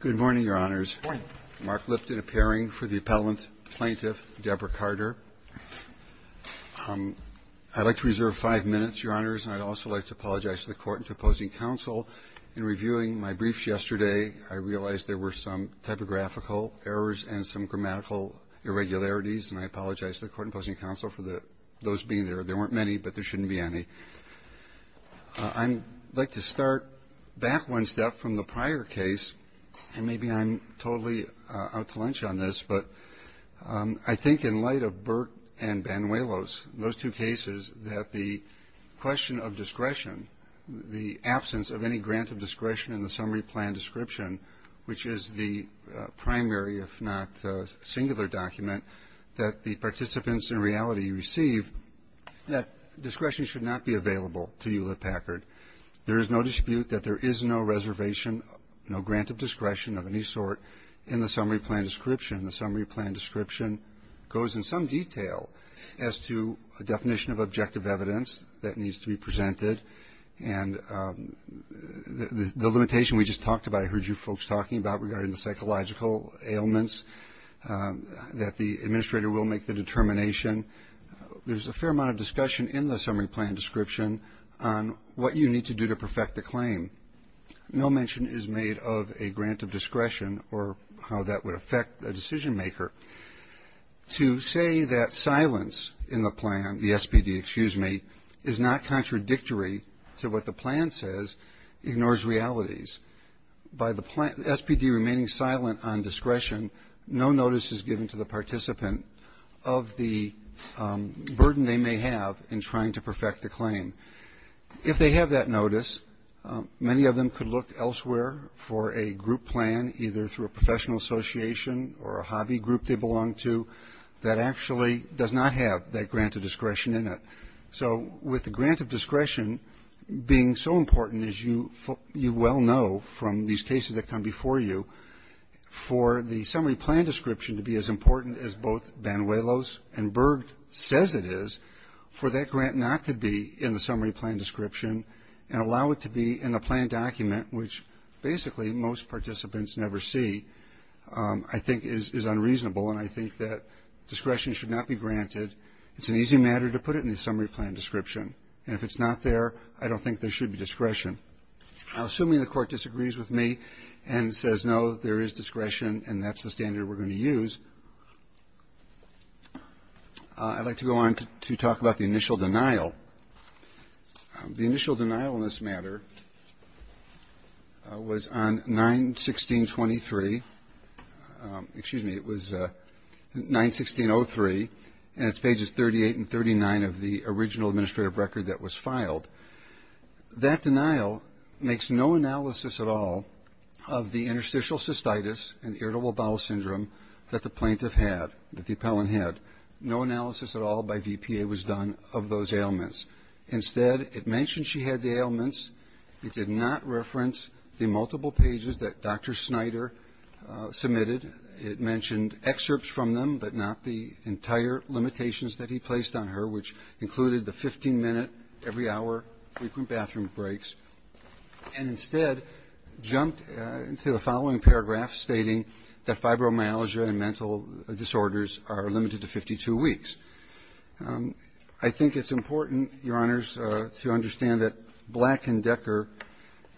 Good morning, Your Honors. Good morning. Mark Lipton appearing for the Appellant Plaintiff, Deborah Carter. I'd like to reserve five minutes, Your Honors, and I'd also like to apologize to the Court and to opposing counsel. In reviewing my briefs yesterday, I realized there were some typographical errors and some grammatical irregularities, and I apologize to the Court and opposing counsel for those being there. There weren't many, but there shouldn't be any. I'd like to start back one step from the prior case, and maybe I'm totally out to lunch on this, but I think in light of Burt and Banuelos, those two cases, that the question of discretion, the absence of any grant of discretion in the summary plan description, which is the primary, if not singular, document that the participants in reality receive, that discretion should not be available to Hewlett-Packard. There is no dispute that there is no reservation, no grant of discretion of any sort in the summary plan description. The summary plan description goes in some detail as to a definition of objective evidence that needs to be presented, and the limitation we just talked about, I heard you folks talking about regarding the psychological ailments, that the administrator will make the determination. There's a fair amount of discussion in the summary plan description on what you need to do to perfect the claim. No mention is made of a grant of discretion or how that would affect a decision maker. To say that silence in the plan, the SPD, excuse me, is not contradictory to what the plan says ignores realities. By the plan, the SPD remaining silent on discretion, no notice is given to the participant of the burden they may have in trying to perfect the claim. If they have that notice, many of them could look elsewhere for a group plan, either through a professional association or a hobby group they belong to, that actually does not have that grant of discretion in it. So with the grant of discretion being so important, as you well know from these cases that come before you, for the summary plan description to be as important as both Banuelos and Berg says it is, for that grant not to be in the summary plan description and allow it to be in the plan document, which basically most participants never see, I think is unreasonable It's an easy matter to put it in the summary plan description. And if it's not there, I don't think there should be discretion. Assuming the Court disagrees with me and says, no, there is discretion and that's the standard we're going to use, I'd like to go on to talk about the initial denial. The initial denial in this matter was on 91623. Excuse me, it was 91603, and it's pages 38 and 39 of the original administrative record that was filed. That denial makes no analysis at all of the interstitial cystitis and irritable bowel syndrome that the plaintiff had, that the appellant had. No analysis at all by VPA was done of those ailments. Instead, it mentioned she had the ailments. It did not reference the multiple pages that Dr. Snyder submitted. It mentioned excerpts from them, but not the entire limitations that he placed on her, which included the 15-minute, every-hour frequent bathroom breaks, and instead jumped into the following paragraph stating that fibromyalgia and mental disorders are limited to 52 weeks. I think it's important, Your Honors, to understand that Black and Decker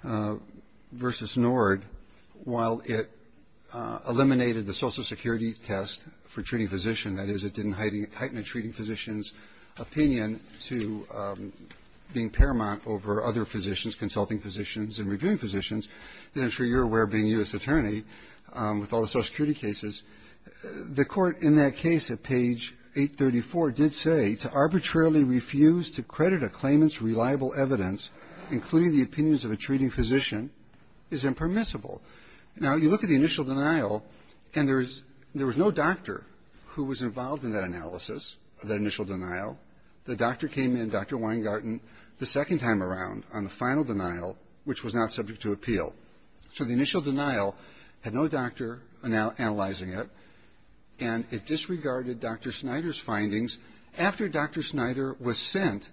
v. Nord, while it eliminated the social security test for treating physician, that is, it didn't heighten a treating physician's opinion to being paramount over other physicians, consulting physicians and reviewing physicians. And I'm sure you're aware, being U.S. Attorney, with all the social security cases, the Court in that case at page 834 did say to arbitrarily refuse to credit a claimant's reliable evidence, including the opinions of a treating physician, is impermissible. Now, you look at the initial denial, and there is no doctor who was involved in that analysis, that initial denial. The doctor came in, Dr. Weingarten, the second time around on the final denial, which was not subject to appeal. So the initial denial had no doctor analyzing it, and it disregarded Dr. Snyder's findings after Dr. Snyder was sent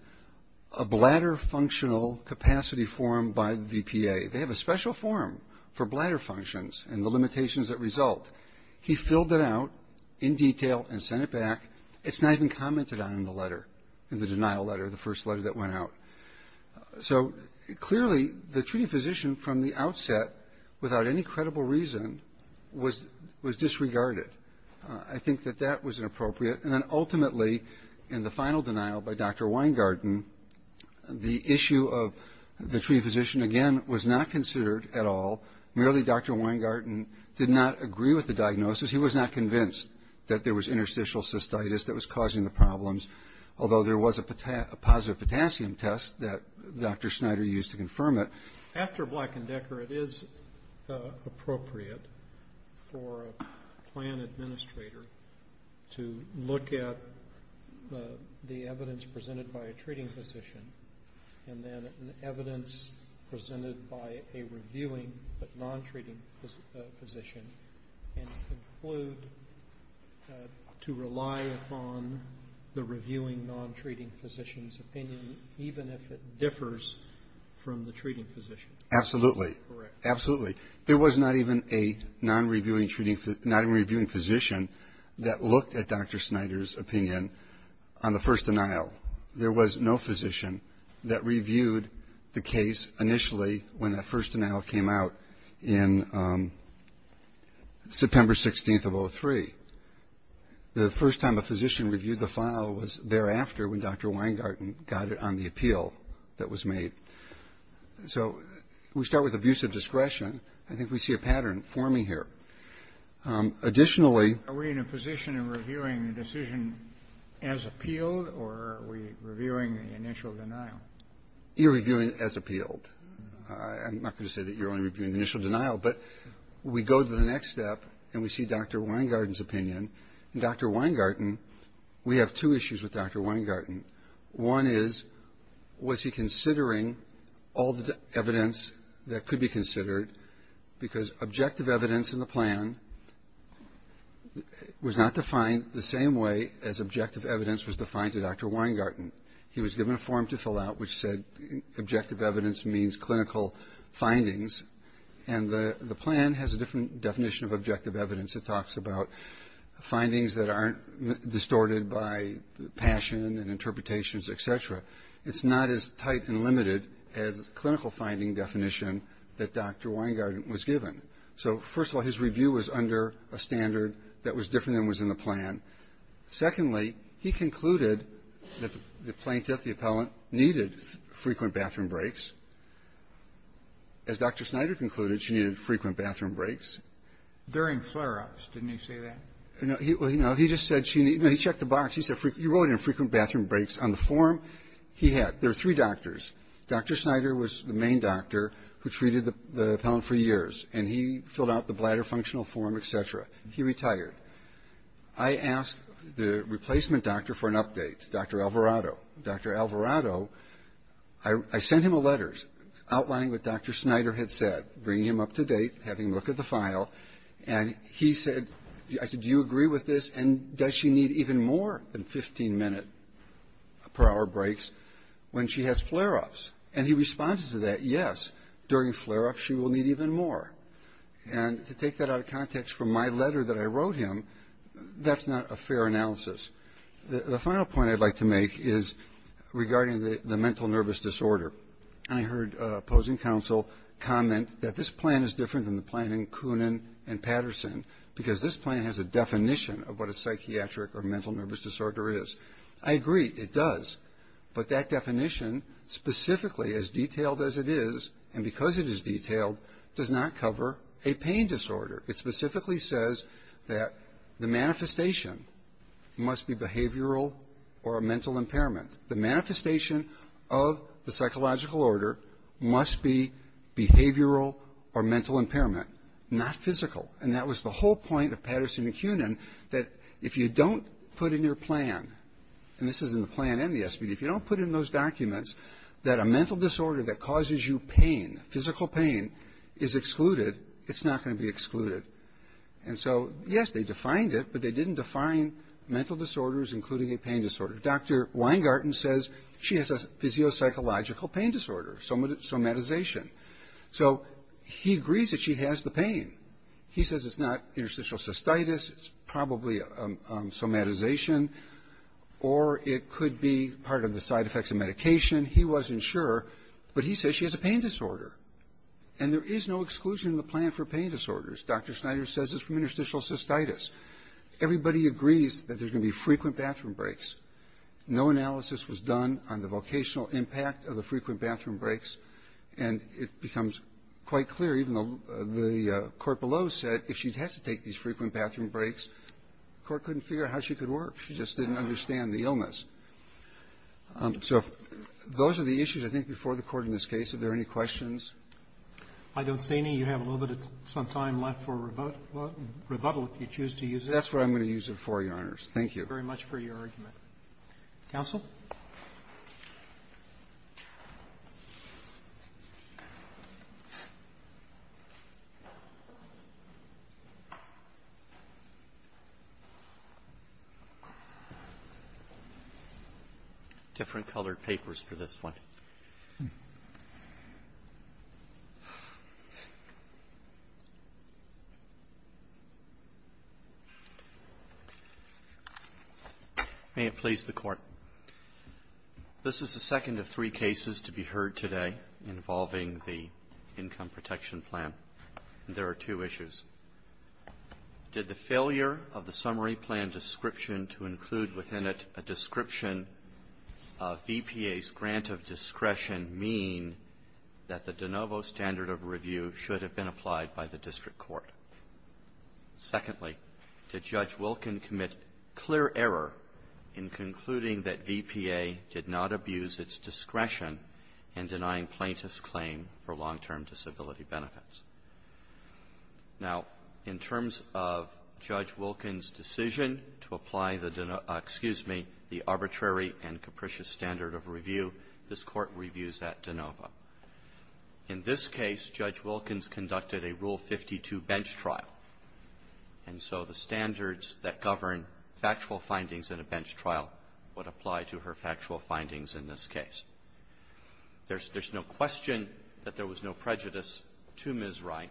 a bladder functional capacity form by the VPA. They have a special form for bladder functions and the limitations that result. He filled it out in detail and sent it back. It's not even commented on in the letter, in the denial letter, the first letter that went out. So clearly, the treating physician from the outset, without any credible reason, was disregarded. I think that that was inappropriate. And then ultimately, in the final denial by Dr. Weingarten, the issue of the treating physician, again, was not considered at all. Merely Dr. Weingarten did not agree with the diagnosis. He was not convinced that there was interstitial cystitis that was causing the cyst that Dr. Snyder used to confirm it. After Black and Decker, it is appropriate for a plan administrator to look at the evidence presented by a treating physician and then evidence presented by a reviewing but non-treating physician and conclude to rely upon the reviewing non-treating physician's opinion, even if it differs from the treating physician. Absolutely. Correct. Absolutely. There was not even a non-reviewing physician that looked at Dr. Snyder's opinion on the first denial. There was no physician that reviewed the case initially when that first denial came out in September 16th of 2003. The first time a physician reviewed the file was thereafter when Dr. Weingarten got it on the appeal that was made. So we start with abusive discretion. I think we see a pattern forming here. Additionally — Are we in a position of reviewing the decision as appealed, or are we reviewing the initial denial? You're reviewing it as appealed. I'm not going to say that you're only reviewing the initial denial, but we go to the Dr. Weingarten, we have two issues with Dr. Weingarten. One is, was he considering all the evidence that could be considered? Because objective evidence in the plan was not defined the same way as objective evidence was defined to Dr. Weingarten. He was given a form to fill out which said objective evidence means clinical findings, and the plan has a different definition of objective evidence. It talks about findings that aren't distorted by passion and interpretations, et cetera. It's not as tight and limited as clinical finding definition that Dr. Weingarten was given. So first of all, his review was under a standard that was different than was in the Secondly, he concluded that the plaintiff, the appellant, needed frequent bathroom breaks. As Dr. Snyder concluded, she needed frequent bathroom breaks. During flare-ups, didn't he say that? No. He just said she needed to check the box. He said you wrote in frequent bathroom breaks. On the form he had, there were three doctors. Dr. Snyder was the main doctor who treated the appellant for years, and he filled out the bladder functional form, et cetera. He retired. I asked the replacement doctor for an update, Dr. Alvarado. Dr. Alvarado, I sent him a letter outlining what Dr. Snyder had said, bringing him up to date, having looked at the file. And he said, I said, do you agree with this? And does she need even more than 15 minute per hour breaks when she has flare-ups? And he responded to that, yes. During flare-ups, she will need even more. And to take that out of context from my letter that I wrote him, that's not a fair analysis. The final point I'd like to make is regarding the mental nervous disorder. I heard opposing counsel comment that this plan is different than the plan in Koonin and Patterson because this plan has a definition of what a psychiatric or mental nervous disorder is. I agree. It does. But that definition specifically, as detailed as it is, and because it is detailed, does not cover a pain disorder. It specifically says that the manifestation must be behavioral or a mental impairment. The manifestation of the psychological order must be behavioral or mental impairment, not physical. And that was the whole point of Patterson and Koonin, that if you don't put in your plan, and this is in the plan and the SPD, if you don't put in those documents that a mental disorder that causes you pain, physical pain, is excluded, it's not going to be excluded. And so, yes, they defined it, but they didn't define mental disorders including a pain disorder. Dr. Weingarten says she has a physio-psychological pain disorder, somatization. So he agrees that she has the pain. He says it's not interstitial cystitis, it's probably somatization, or it could be part of the side effects of medication. He wasn't sure, but he says she has a pain disorder. And there is no exclusion in the plan for pain disorders. Dr. Snyder says it's from interstitial cystitis. Everybody agrees that there's going to be frequent bathroom breaks. No analysis was done on the vocational impact of the frequent bathroom breaks. And it becomes quite clear, even though the Court below said if she has to take these frequent bathroom breaks, the Court couldn't figure out how she could work. She just didn't understand the illness. So those are the issues, I think, before the Court in this case. Are there any questions? I don't see any. You have a little bit of some time left for rebuttal if you choose to use it. That's what I'm going to use it for, Your Honors. Thank you. Thank you very much for your argument. Counsel? Different colored papers for this one. May it please the Court. This is the second of three cases to be heard today involving the income protection plan. There are two issues. Did the failure of the summary plan description to include within it a description of VPA's grant of discretion mean that the de novo standard of review should have been applied by the District Court? Secondly, did Judge Wilkins commit clear error in concluding that VPA did not abuse its discretion in denying plaintiffs' claim for long-term disability benefits? Now, in terms of Judge Wilkins' decision to apply the de novo --- excuse me, the arbitrary and capricious standard of review, this Court reviews that de novo. In this case, Judge Wilkins conducted a Rule 52 bench trial. And so the standards that govern factual findings in a bench trial would apply to her factual findings in this case. There's no question that there was no prejudice to Ms. Wright.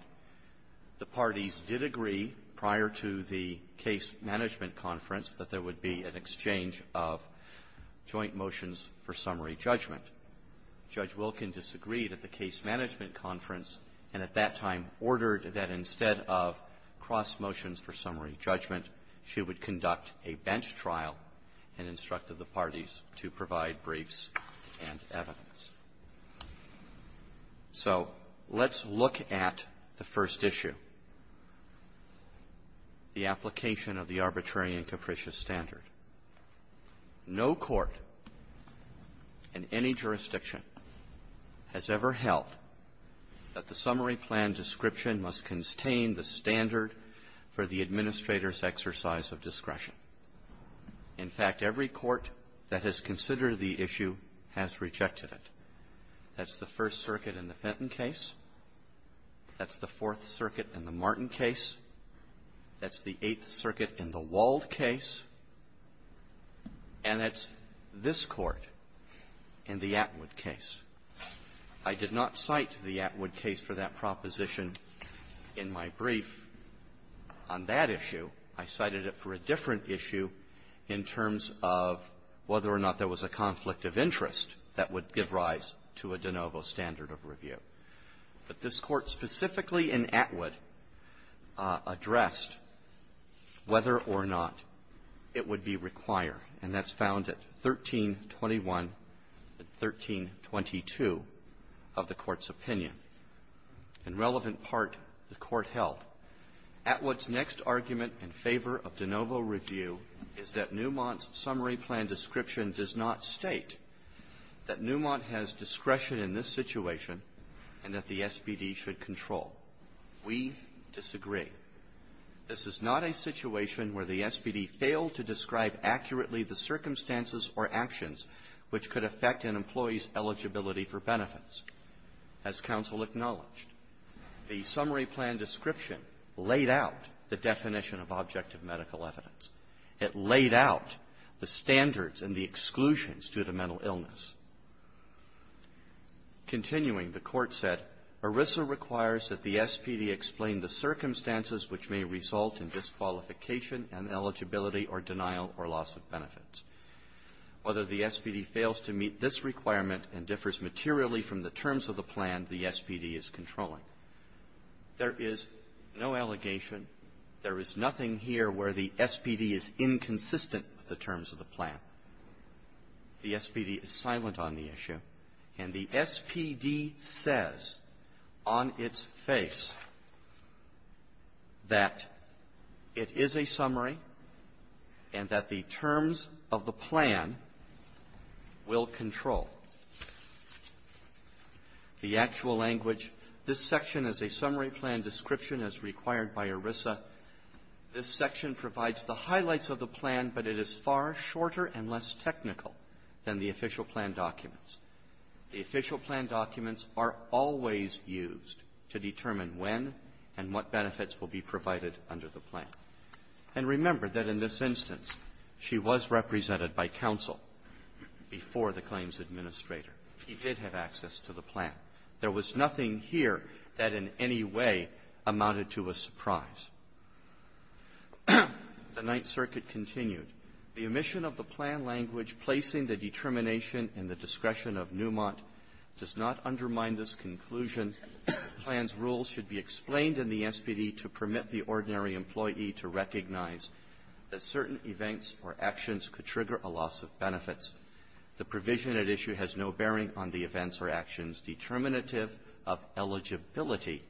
The parties did agree prior to the case management conference that there would be an exchange of joint motions for summary judgment. Judge Wilkins disagreed at the case management conference and at that time ordered that instead of cross motions for summary judgment, she would conduct a bench trial and instructed the parties to provide briefs and evidence. So let's look at the first issue, the application of the arbitrary and capricious standard. No court in any jurisdiction has ever held that the summary plan description must contain the standard for the administrator's exercise of discretion. In fact, every court that has considered the issue has rejected it. That's the First Circuit in the Fenton case. That's the Fourth Circuit in the Martin case. That's the Eighth Circuit in the Wald case. And that's this Court in the Atwood case. I did not cite the Atwood case for that proposition in my brief on that issue. I cited it for a different issue in terms of whether or not there was a conflict of interest that would give rise to a de novo standard of review. But this Court specifically in Atwood addressed whether or not it would be required, and that's found at 1321 and 1322 of the Court's opinion. In relevant part, the Court held Atwood's next argument in favor of de novo review is that Newmont's summary plan description does not state that Newmont has discretion in this situation and that the SBD should control. We disagree. This is not a situation where the SBD failed to describe accurately the circumstances or actions which could affect an employee's eligibility for benefits. As counsel acknowledged, the summary plan description laid out the definition of objective medical evidence. It laid out the standards and the exclusions to the mental illness. Continuing, the Court said, ERISA requires that the SBD explain the circumstances which may result in disqualification and eligibility or denial or loss of benefits. Whether the SBD fails to meet this requirement and differs materially from the terms of the plan the SBD is controlling. There is no allegation. There is nothing here where the SBD is inconsistent with the terms of the plan. The SBD is silent on the issue. And the SBD says on its face that it is a summary and that the terms of the plan will control. The actual language, this section is a summary plan description as required by ERISA. This section provides the highlights of the plan, but it is far shorter and less technical than the official plan documents. The official plan documents are always used to determine when and what benefits will be provided under the plan. And remember that in this instance, she was represented by counsel before the claims administrator. He did have access to the plan. There was nothing here that in any way amounted to a surprise. The Ninth Circuit continued, the omission of the plan language placing the determination in the discretion of Newmont does not undermine this conclusion. The plan's rules should be explained in the SBD to permit the ordinary employee to recognize that certain events or actions could trigger a loss of benefits. The provision at issue has no bearing on the events or actions determinative of eligibility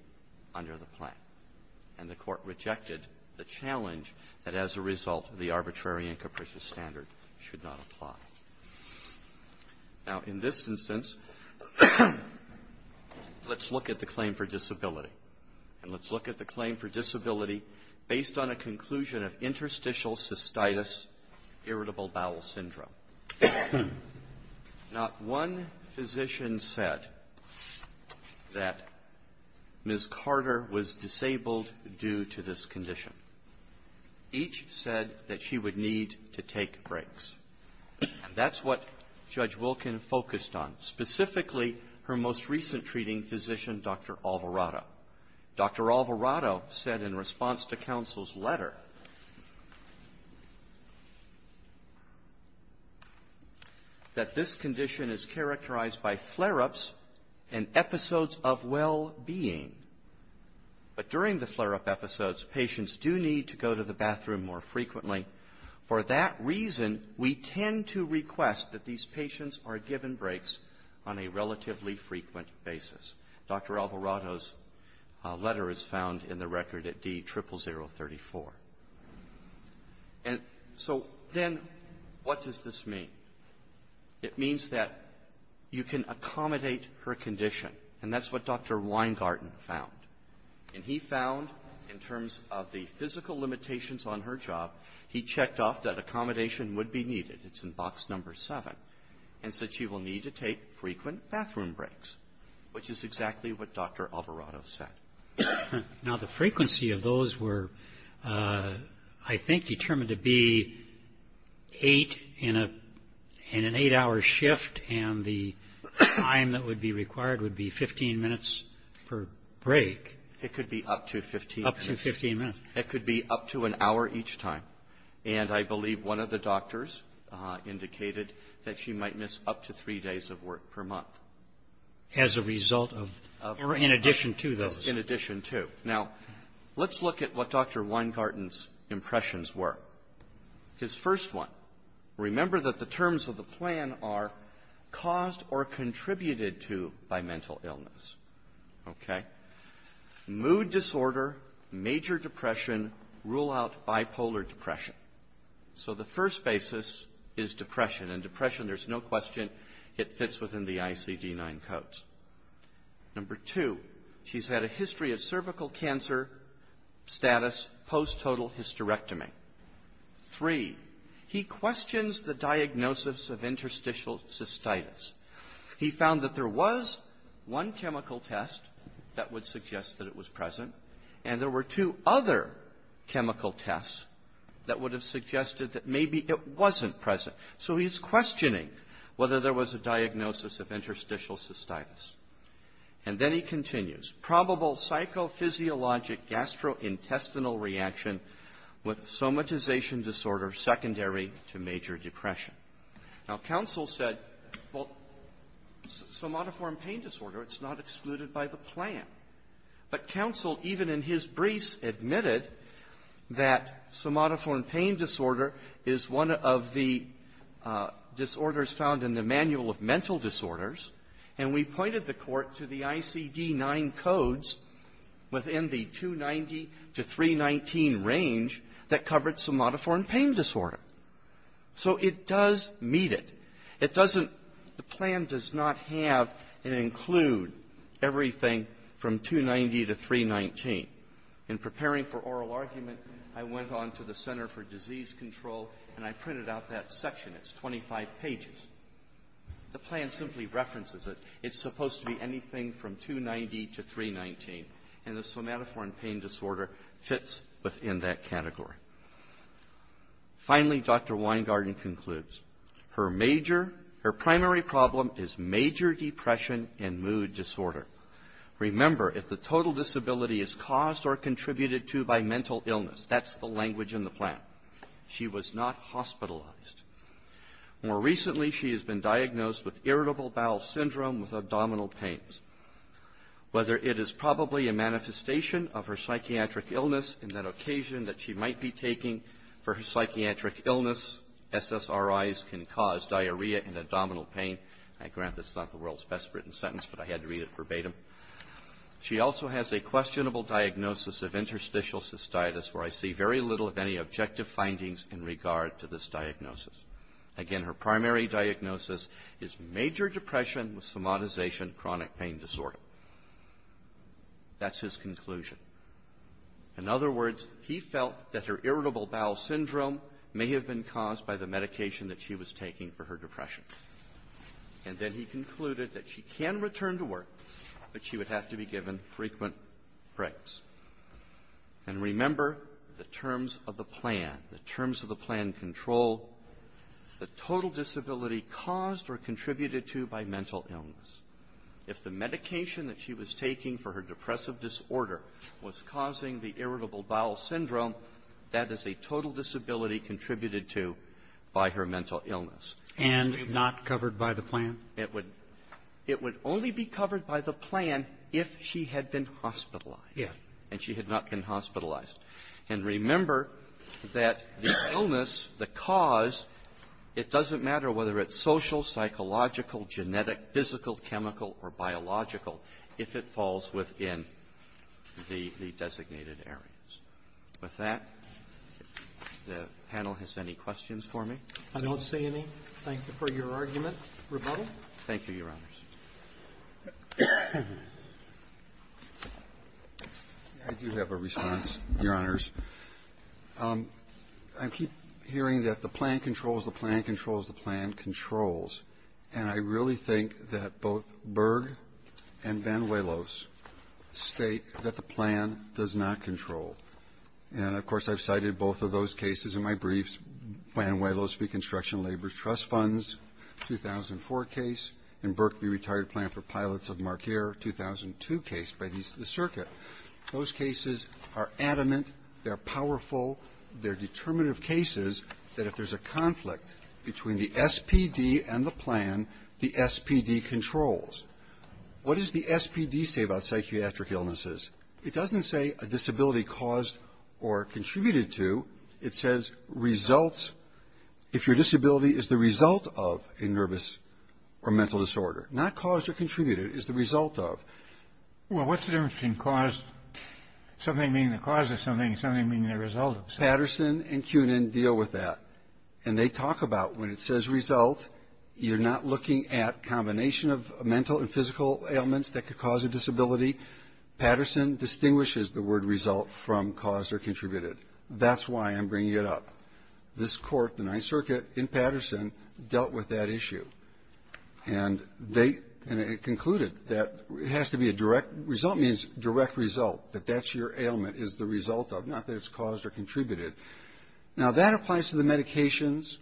under the plan. And the Court rejected the challenge that as a result, the arbitrary and capricious standard should not apply. Now, in this instance, let's look at the claim for disability. And let's look at the claim for disability based on a conclusion of interstitial cystitis, irritable bowel syndrome. Not one physician said that Ms. Carter was disabled due to this condition. Each said that she would need to take breaks. And that's what Judge Wilkin focused on, specifically her most recent treating physician, Dr. Alvarado. Dr. Alvarado said in response to counsel's letter that this condition is characterized by flare-ups and episodes of well-being. But during the flare-up episodes, patients do need to go to the bathroom more frequently. For that reason, we tend to request that these patients are given breaks on a relatively frequent basis. Dr. Alvarado's letter is found in the record at D00034. And so then what does this mean? It means that you can accommodate her condition. And that's what Dr. Weingarten found. And he found in terms of the physical limitations on her job, he checked off that accommodation would be needed. It's in Box No. 7. And said she will need to take frequent bathroom breaks, which is exactly what Dr. Alvarado said. Dr. Alvarado Now, the frequency of those were, I think, determined to be eight in an eight-hour shift. And the time that would be required would be 15 minutes per break. Dr. Alvarado It could be up to 15 minutes. Dr. Alvarado Up to 15 minutes. Dr. Alvarado It could be up to an hour each time. And I believe one of the doctors indicated that she might miss up to three days of work per month. Dr. Roberts As a result of or in addition to those. Dr. Alvarado In addition to. Now, let's look at what Dr. Weingarten's impressions were. His first one, remember that the terms of the plan are caused or contributed to by mental illness. Okay? Mood disorder, major depression, rule out bipolar depression. So the first basis is depression. And depression, there's no question, it fits within the ICD-9 codes. Number two, she's had a history of cervical cancer status post-total hysterectomy. Three, he questions the diagnosis of interstitial cystitis. He found that there was one chemical test that would suggest that it was present, and there were two other chemical tests that would have suggested that maybe it wasn't present. So he's questioning whether there was a diagnosis of interstitial cystitis. And then he continues. Probable psychophysiologic gastrointestinal reaction with somatization disorder secondary to major depression. Now, counsel said, well, somatiform pain disorder, it's not excluded by the plan. But counsel, even in his briefs, admitted that somatiform pain disorder is one of the disorders found in the Manual of Mental Disorders, and we pointed the Court to the ICD-9 codes within the 290 to 319 range that covered somatiform pain disorder. So it does meet it. It doesn't – the plan does not have and include everything from 290 to 319. In preparing for oral argument, I went on to the Center for Disease Control, and I printed out that section. It's 25 pages. The plan simply references it. It's supposed to be anything from 290 to 319, and the somatiform pain disorder fits within that category. Finally, Dr. Weingarten concludes, her major – her primary problem is major depression and mood disorder. Remember, if the total disability is caused or contributed to by mental illness, that's the language in the plan. She was not hospitalized. More recently, she has been diagnosed with irritable bowel syndrome with abdominal pains. Whether it is probably a manifestation of her psychiatric illness in that occasion that she might be taking for her psychiatric illness, SSRIs can cause diarrhea and abdominal pain. I grant that's not the world's best written sentence, but I had to read it verbatim. She also has a questionable diagnosis of interstitial cystitis, where I see very little of any objective findings in regard to this diagnosis. Again, her primary diagnosis is major depression with somatization chronic pain disorder. That's his conclusion. In other words, he felt that her irritable bowel syndrome may have been caused by the medication that she was taking for her depression. And then he concluded that she can return to work, but she would have to be given frequent breaks. And remember, the terms of the plan, the terms of the plan control, the total disability caused or contributed to by mental illness. If the medication that she was taking for her depressive disorder was causing the irritable bowel syndrome, that is a total disability contributed to by her mental illness. And not covered by the plan? It would only be covered by the plan if she had been hospitalized. Yes. And she had not been hospitalized. And remember that the illness, the cause, it doesn't matter whether it's social, psychological, genetic, physical, chemical, or biological if it falls within the designated areas. With that, the panel has any questions for me? I don't see any. Thank you for your argument, Rebuttal. Thank you, Your Honors. I do have a response, Your Honors. I keep hearing that the plan controls the plan, controls. And I really think that both Berg and Van Willis state that the plan does not control. And, of course, I've cited both of those cases in my briefs, Van Willis Reconstruction Labor Trust Funds, 2004 case, and Berkley Retired Plan for Pilots of Marqueer, 2002 case by the Circuit. Those cases are adamant, they're powerful, they're determinative cases that if there's a conflict between the SPD and the plan, the SPD controls. What does the SPD say about psychiatric illnesses? It doesn't say a disability caused or contributed to. It says results, if your disability is the result of a nervous or mental disorder. Not caused or contributed, it's the result of. Well, what's the difference between caused, something being the cause of something, something being the result of something? Patterson and Kunin deal with that. And they talk about when it says result, you're not looking at a combination of mental and physical ailments that could cause a disability. Patterson distinguishes the word result from caused or contributed. That's why I'm bringing it up. This court, the Ninth Circuit, in Patterson, dealt with that issue. And they concluded that it has to be a direct, result means direct result, that that's your ailment is the result of, not that it's caused or contributed. Now, that applies to the medications.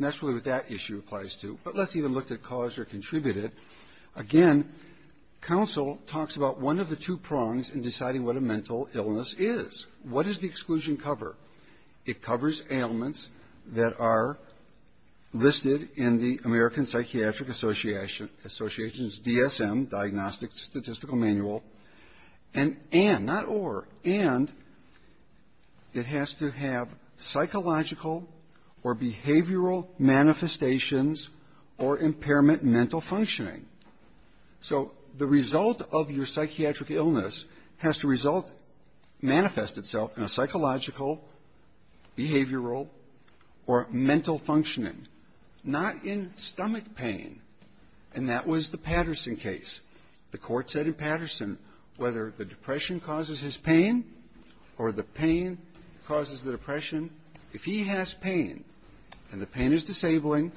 That's really what that issue applies to. But let's even look at caused or contributed. Again, counsel talks about one of the two prongs in deciding what a mental illness is. What does the exclusion cover? It covers ailments that are listed in the American Psychiatric Association's DSM, Diagnostic Statistical Manual, and and, not or, and it has to have psychological or behavioral manifestations or impairment mental functioning. So the result of your psychiatric illness has to result, manifest itself in a psychological, behavioral, or mental functioning, not in stomach pain. And that was the Patterson case. The Court said in Patterson, whether the depression causes his pain or the pain causes the depression, if he has pain and the pain is disabling,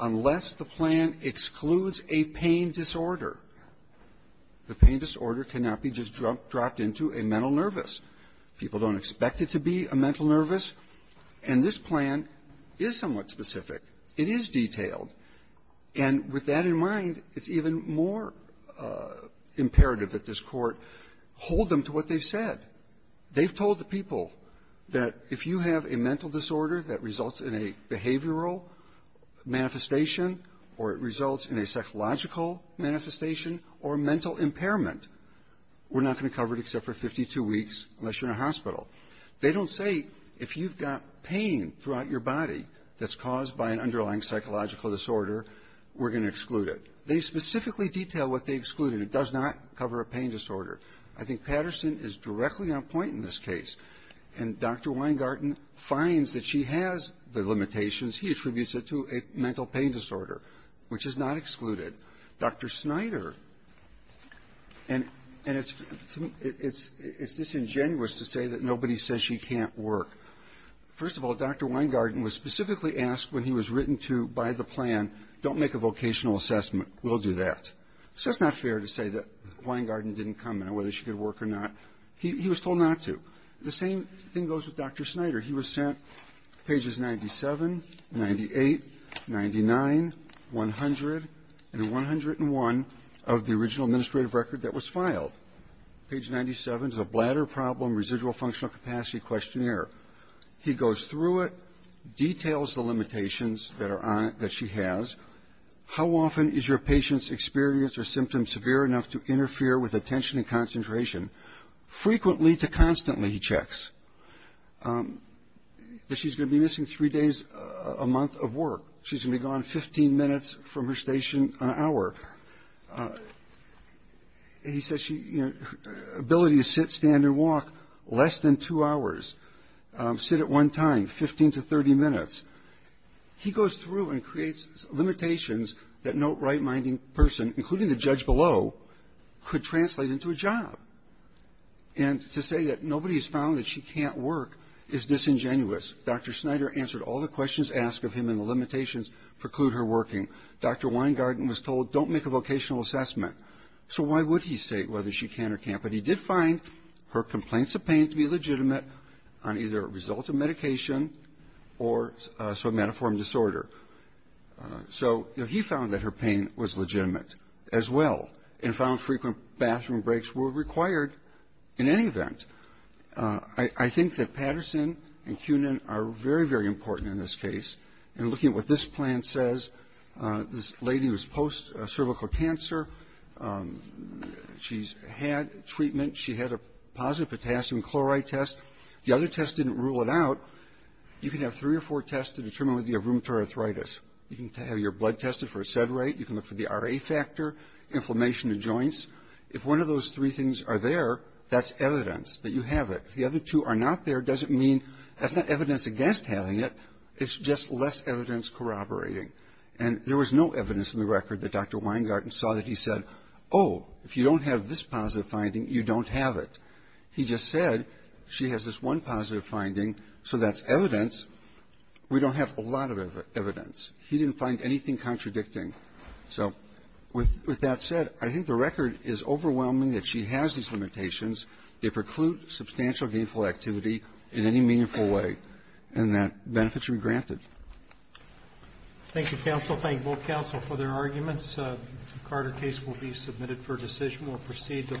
unless the plan excludes a pain disorder, the pain disorder cannot be just dropped into a mental nervous. People don't expect it to be a mental nervous. And this plan is somewhat specific. It is detailed. And with that in mind, it's even more imperative that this Court hold them to what they've said. They've told the people that if you have a mental disorder that results in a behavioral manifestation or it results in a psychological manifestation or mental impairment, we're not going to cover it except for 52 weeks unless you're in a hospital. They don't say, if you've got pain throughout your body that's caused by an underlying psychological disorder, we're going to exclude it. They specifically detail what they excluded. It does not cover a pain disorder. I think Patterson is directly on point in this case. And Dr. Weingarten finds that she has the limitations. He attributes it to a mental pain disorder, which is not excluded. Dr. Snyder, and it's disingenuous to say that nobody says she can't work. First of all, Dr. Weingarten was specifically asked when he was written to by the plan, don't make a vocational assessment. We'll do that. So it's not fair to say that Weingarten didn't come in or whether she could work or not. He was told not to. The same thing goes with Dr. Snyder. He was sent pages 97, 98, 99, 100, and 101 of the original administrative record that was filed. Page 97 is a bladder problem residual functional capacity questionnaire. He goes through it, details the limitations that are on it that she has. How often is your patient's experience or symptoms severe enough to interfere with But she's going to be missing three days a month of work. She's going to be gone 15 minutes from her station an hour. He says she, you know, ability to sit, stand, and walk less than two hours, sit at one time, 15 to 30 minutes. He goes through and creates limitations that no right-minding person, including the judge below, could translate into a job. And to say that nobody has found that she can't work is disingenuous. Dr. Snyder answered all the questions asked of him and the limitations preclude her working. Dr. Weingarten was told don't make a vocational assessment. So why would he say whether she can or can't? But he did find her complaints of pain to be legitimate on either a result of medication or somatoform disorder. So he found that her pain was legitimate as well and found frequent bathroom breaks were required in any event. I think that Patterson and Kunin are very, very important in this case. And looking at what this plan says, this lady was post-cervical cancer. She's had treatment. She had a positive potassium chloride test. The other test didn't rule it out. You can have three or four tests to determine whether you have rheumatoid arthritis. You can have your blood tested for acetyl inflammation of joints. If one of those three things are there, that's evidence that you have it. If the other two are not there, it doesn't mean that's not evidence against having it. It's just less evidence corroborating. And there was no evidence in the record that Dr. Weingarten saw that he said, oh, if you don't have this positive finding, you don't have it. He just said she has this one positive finding, so that's evidence. We don't have a lot of evidence. He didn't find anything contradicting. So with that said, I think the record is overwhelming that she has these limitations. They preclude substantial gainful activity in any meaningful way, and that benefits should be granted. Thank you, counsel. Thank both counsel for their arguments. The Carter case will be submitted for decision. We'll proceed to the